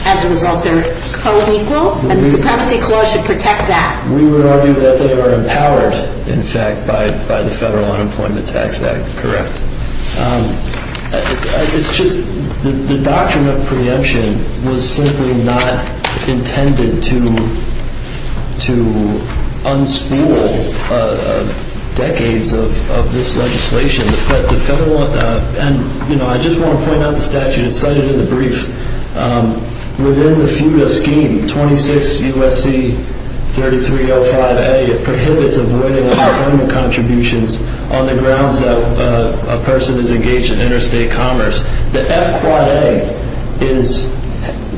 as a result they're co-equal, and the Supremacy Clause should protect that. We would argue that they are empowered, in fact, by the Federal Unemployment Tax Act, correct? It's just the doctrine of preemption was simply not intended to unspool decades of this legislation. I just want to point out the statute. It's cited in the brief. Within the FEWDA scheme, 26 U.S.C. 3305A, it prohibits avoiding unemployment contributions on the grounds that a person is engaged in interstate commerce. The FQIA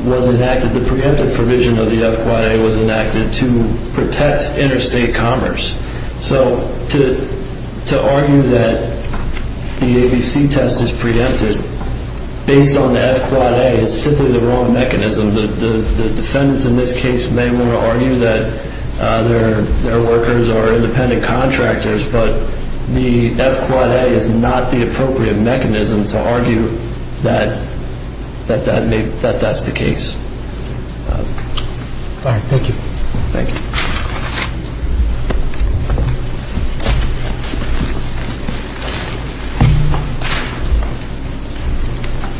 was enacted, the preemptive provision of the FQIA was enacted to protect interstate commerce. So to argue that the ABC test is preemptive based on the FQIA is simply the wrong mechanism. The defendants in this case may want to argue that their workers are independent contractors, but the FQIA is not the appropriate mechanism to argue that that's the case. All right. Thank you. Thank you. Thank you.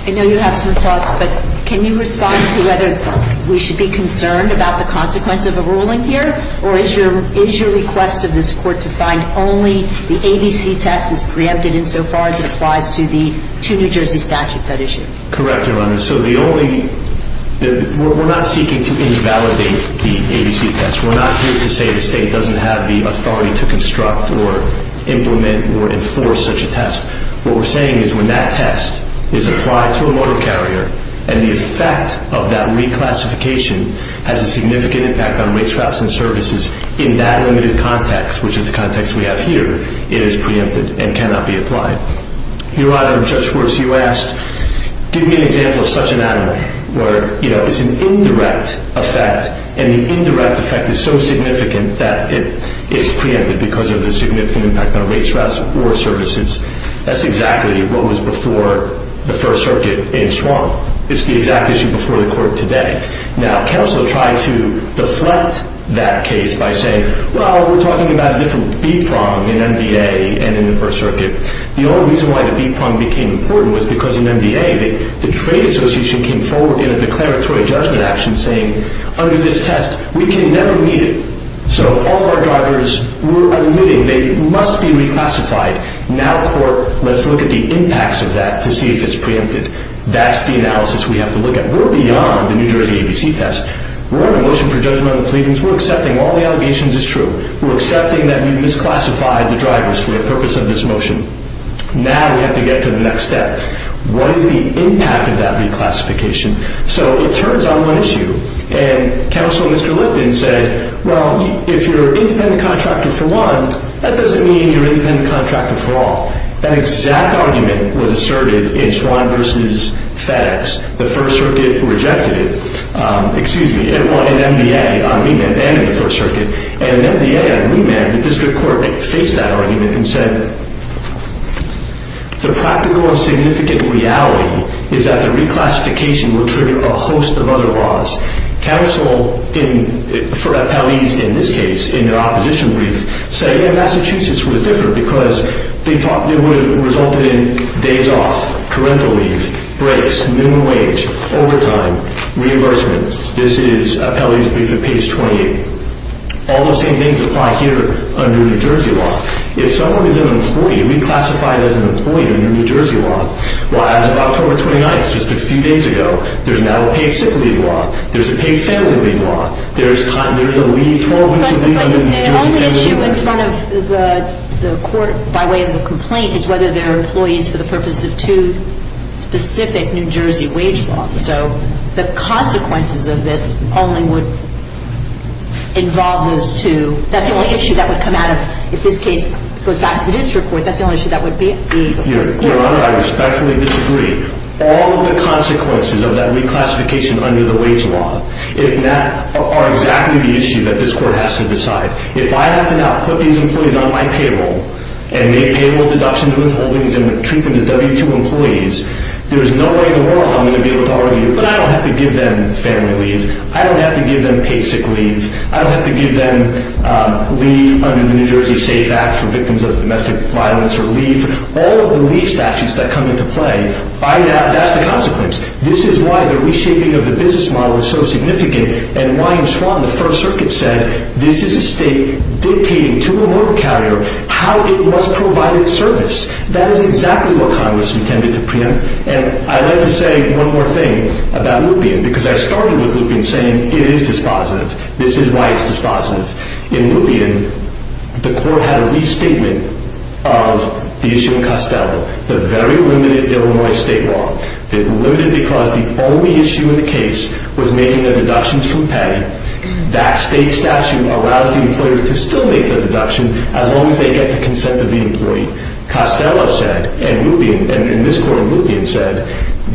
I know you have some thoughts, but can you respond to whether we should be concerned about the consequence of a ruling here, or is your request of this Court to find only the ABC test is preempted insofar as it applies to the two New Jersey statutes at issue? Correct, Your Honor. So the only – we're not seeking to invalidate the ABC test. We're not here to say the state doesn't have the authority to construct or implement or enforce such a test. What we're saying is when that test is applied to a motor carrier and the effect of that reclassification has a significant impact on race, routes, and services in that limited context, which is the context we have here, it is preempted and cannot be applied. Your Honor, Judge Schwartz, you asked, give me an example of such an animal where, you know, it's an indirect effect and the indirect effect is so significant that it is preempted because of the significant impact on race, routes, or services. That's exactly what was before the First Circuit in Schwarm. It's the exact issue before the Court today. Now, counsel tried to deflect that case by saying, well, we're talking about a different B-prong in MVA and in the First Circuit. The only reason why the B-prong became important was because in MVA, the trade association came forward in a declaratory judgment action saying, under this test, we can now omit it. So all of our drivers were omitting. They must be reclassified. Now, Court, let's look at the impacts of that to see if it's preempted. That's the analysis we have to look at. We're beyond the New Jersey ABC test. We're on a motion for judgment of the pleadings. We're accepting all the allegations as true. We're accepting that we've misclassified the drivers for the purpose of this motion. Now we have to get to the next step. What is the impact of that reclassification? So it turns on one issue, and counsel, Mr. Lipton, said, well, if you're an independent contractor for one, that doesn't mean you're an independent contractor for all. That exact argument was asserted in Schwann v. FedEx. The First Circuit rejected it. Excuse me. It won in MVA on remand then in the First Circuit. And in MVA on remand, the district court faced that argument and said, the practical and significant reality is that the reclassification will trigger a host of other laws. Counsel for appellees in this case in their opposition brief said, yeah, Massachusetts was different because they thought it would have resulted in days off, parental leave, breaks, minimum wage, overtime, reimbursement. This is appellee's brief at page 28. All the same things apply here under New Jersey law. If someone is an employee, reclassified as an employee under New Jersey law, well, as of October 29th, just a few days ago, there's now a paid sick leave law. There's a paid family leave law. There's a leave, 12 weeks of leave under New Jersey family leave law. But the only issue in front of the court by way of a complaint is whether there are employees for the purposes of two specific New Jersey wage laws. So the consequences of this only would involve those two. That's the only issue that would come out of, if this case goes back to the district court, that's the only issue that would be. Your Honor, I respectfully disagree. All of the consequences of that reclassification under the wage law are exactly the issue that this court has to decide. If I have to now put these employees on my payroll and make payable deduction to withholdings and treat them as W-2 employees, there's no way in the world I'm going to be able to argue. But I don't have to give them family leave. I don't have to give them paid sick leave. I don't have to give them leave under the New Jersey Safe Act for victims of domestic violence or leave. All of the leave statutes that come into play, that's the consequence. This is why the reshaping of the business model is so significant and why in Swann the First Circuit said, this is a state dictating to a mortal carrier how it must provide its service. That is exactly what Congress intended to preempt. And I'd like to say one more thing about Lupien, because I started with Lupien saying it is dispositive. This is why it's dispositive. In Lupien, the court had a restatement of the issue in Costello, the very limited Illinois state law. It's limited because the only issue in the case was making the deductions from Patty. That state statute allows the employer to still make the deduction as long as they get the consent of the employee. Costello said, and Lupien, and in this court Lupien said,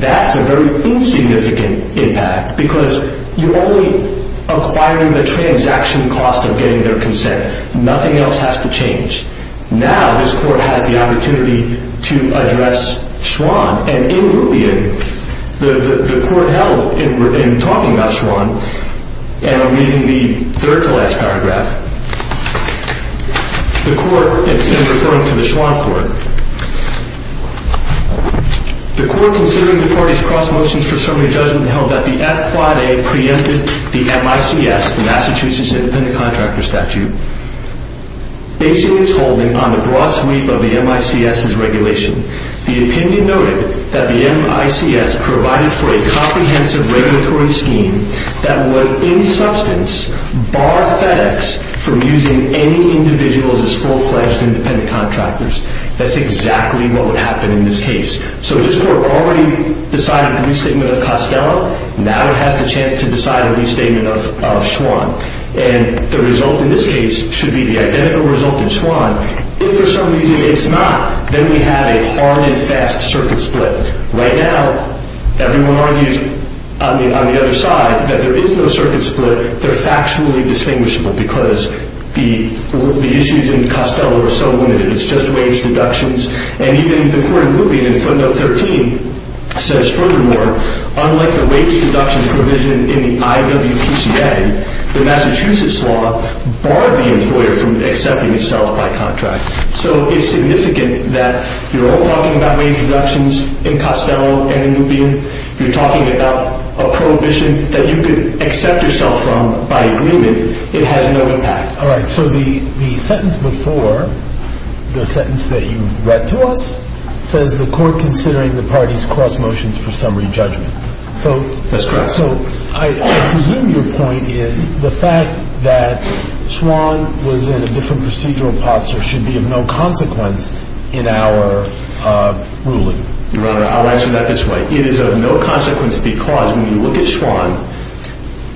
that's a very insignificant impact because you're only acquiring the transaction cost of getting their consent. Nothing else has to change. Now this court has the opportunity to address Swann. And in Lupien, the court held in talking about Swann, and I'm reading the third to last paragraph, the court, in referring to the Swann court, the court, considering the parties' cross motions for summary judgment, held that the F quad A preempted the MICS, the Massachusetts Independent Contractor Statute. Basing its holding on the broad sweep of the MICS's regulation, the opinion noted that the MICS provided for a comprehensive regulatory scheme that would, in substance, bar FedEx from using any individuals as full-fledged independent contractors. That's exactly what would happen in this case. So this court already decided a restatement of Costello. Now it has the chance to decide a restatement of Swann. And the result in this case should be the identical result in Swann. If for some reason it's not, then we have a hard and fast circuit split. Right now, everyone argues on the other side that there is no circuit split. They're factually distinguishable because the issues in Costello are so limited. It's just wage deductions. And even the court in Lupien in Fundo 13 says, furthermore, unlike the wage deduction provision in the IWPCA, the Massachusetts law barred the employer from accepting itself by contract. So it's significant that you're all talking about wage deductions in Costello and in Lupien. You're talking about a prohibition that you could accept yourself from by agreement. It has no impact. All right. So the sentence before, the sentence that you read to us, says the court considering the parties cross motions for summary judgment. That's correct. So I presume your point is the fact that Swann was in a different procedural posture should be of no consequence in our ruling. Your Honor, I'll answer that this way. It is of no consequence because when you look at Swann,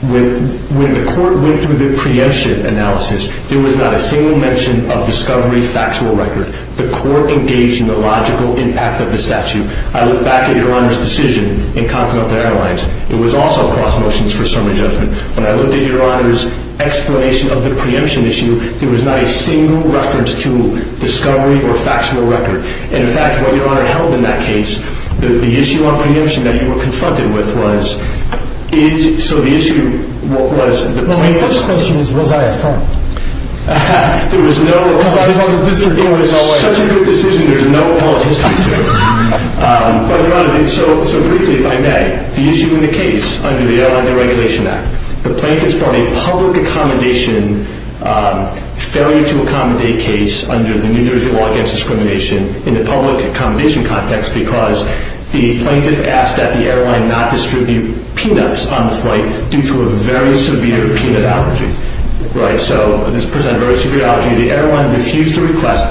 when the court went through the preemption analysis, there was not a single mention of discovery factual record. The court engaged in the logical impact of the statute. I look back at your Honor's decision in Continental Airlines. It was also cross motions for summary judgment. When I looked at your Honor's explanation of the preemption issue, there was not a single reference to discovery or factual record. In fact, what your Honor held in that case, the issue on preemption that you were confronted with was, so the issue was the plaintiff's… Well, my first question is was I at fault? There was no… Because I was on the district court. It was such a good decision, there's no politics to it. But your Honor, so briefly, if I may, the issue in the case under the Airline Deregulation Act, the plaintiff's probably public accommodation, failure to accommodate case under the New Jersey Law Against Discrimination in the public accommodation context because the plaintiff asked that the airline not distribute peanuts on the flight due to a very severe peanut allergy, right? So this person had a very severe allergy. The airline refused the request,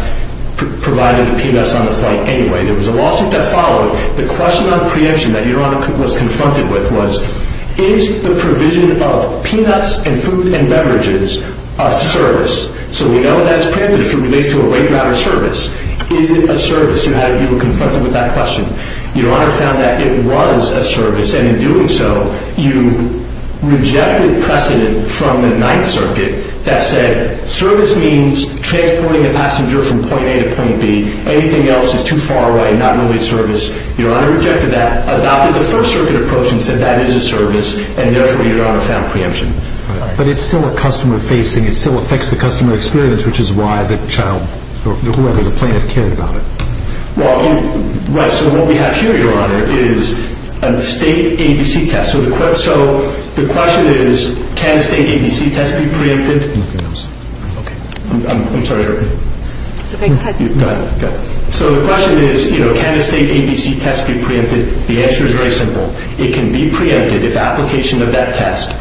provided the peanuts on the flight anyway. There was a lawsuit that followed. The question on preemption that your Honor was confronted with was, is the provision of peanuts and food and beverages a service? So we know that's preempted if it relates to a weight-added service. Is it a service? You were confronted with that question. Your Honor found that it was a service, and in doing so you rejected precedent from the Ninth Circuit that said, service means transporting a passenger from point A to point B. Anything else is too far away, not really service. Your Honor rejected that, adopted the First Circuit approach and said that is a service, and therefore your Honor found preemption. But it's still a customer facing, it still affects the customer experience, which is why the child or whoever the plaintiff cared about it. Right. So what we have here, Your Honor, is a state ABC test. So the question is, can a state ABC test be preempted? Nothing else. Okay. I'm sorry. It's okay. Go ahead. So the question is, can a state ABC test be preempted? The answer is very simple. It can be preempted if the application of that test,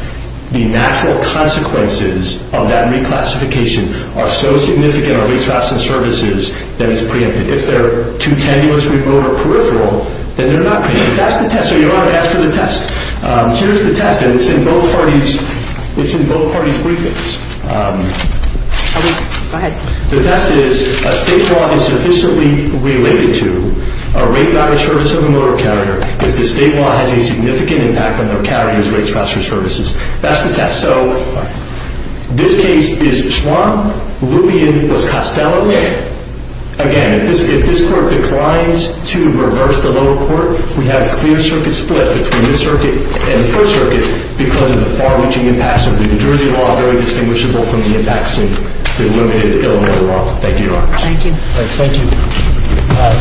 the natural consequences of that reclassification are so significant on rates, facts, and services that it's preempted. If they're too tenuous, remote, or peripheral, then they're not preempted. That's the test. So Your Honor, that's the test. Here's the test, and it's in both parties' briefings. Go ahead. The test is, a state law is sufficiently related to a rate by the service of a motor carrier if the state law has a significant impact on their carriers' rates, facts, or services. That's the test. So this case is Schwann. Lupien was Costello. Again, if this court declines to reverse the lower court, we have a clear circuit split between this circuit and the first circuit because of the far-reaching impacts of the New Jersey law, very distinguishable from the impacts of the limited Illinois law. Thank you, Your Honor. Thank you. Thank you.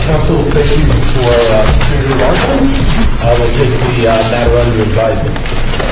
Counsel, thank you for your remarks. I will take the matter under advisement.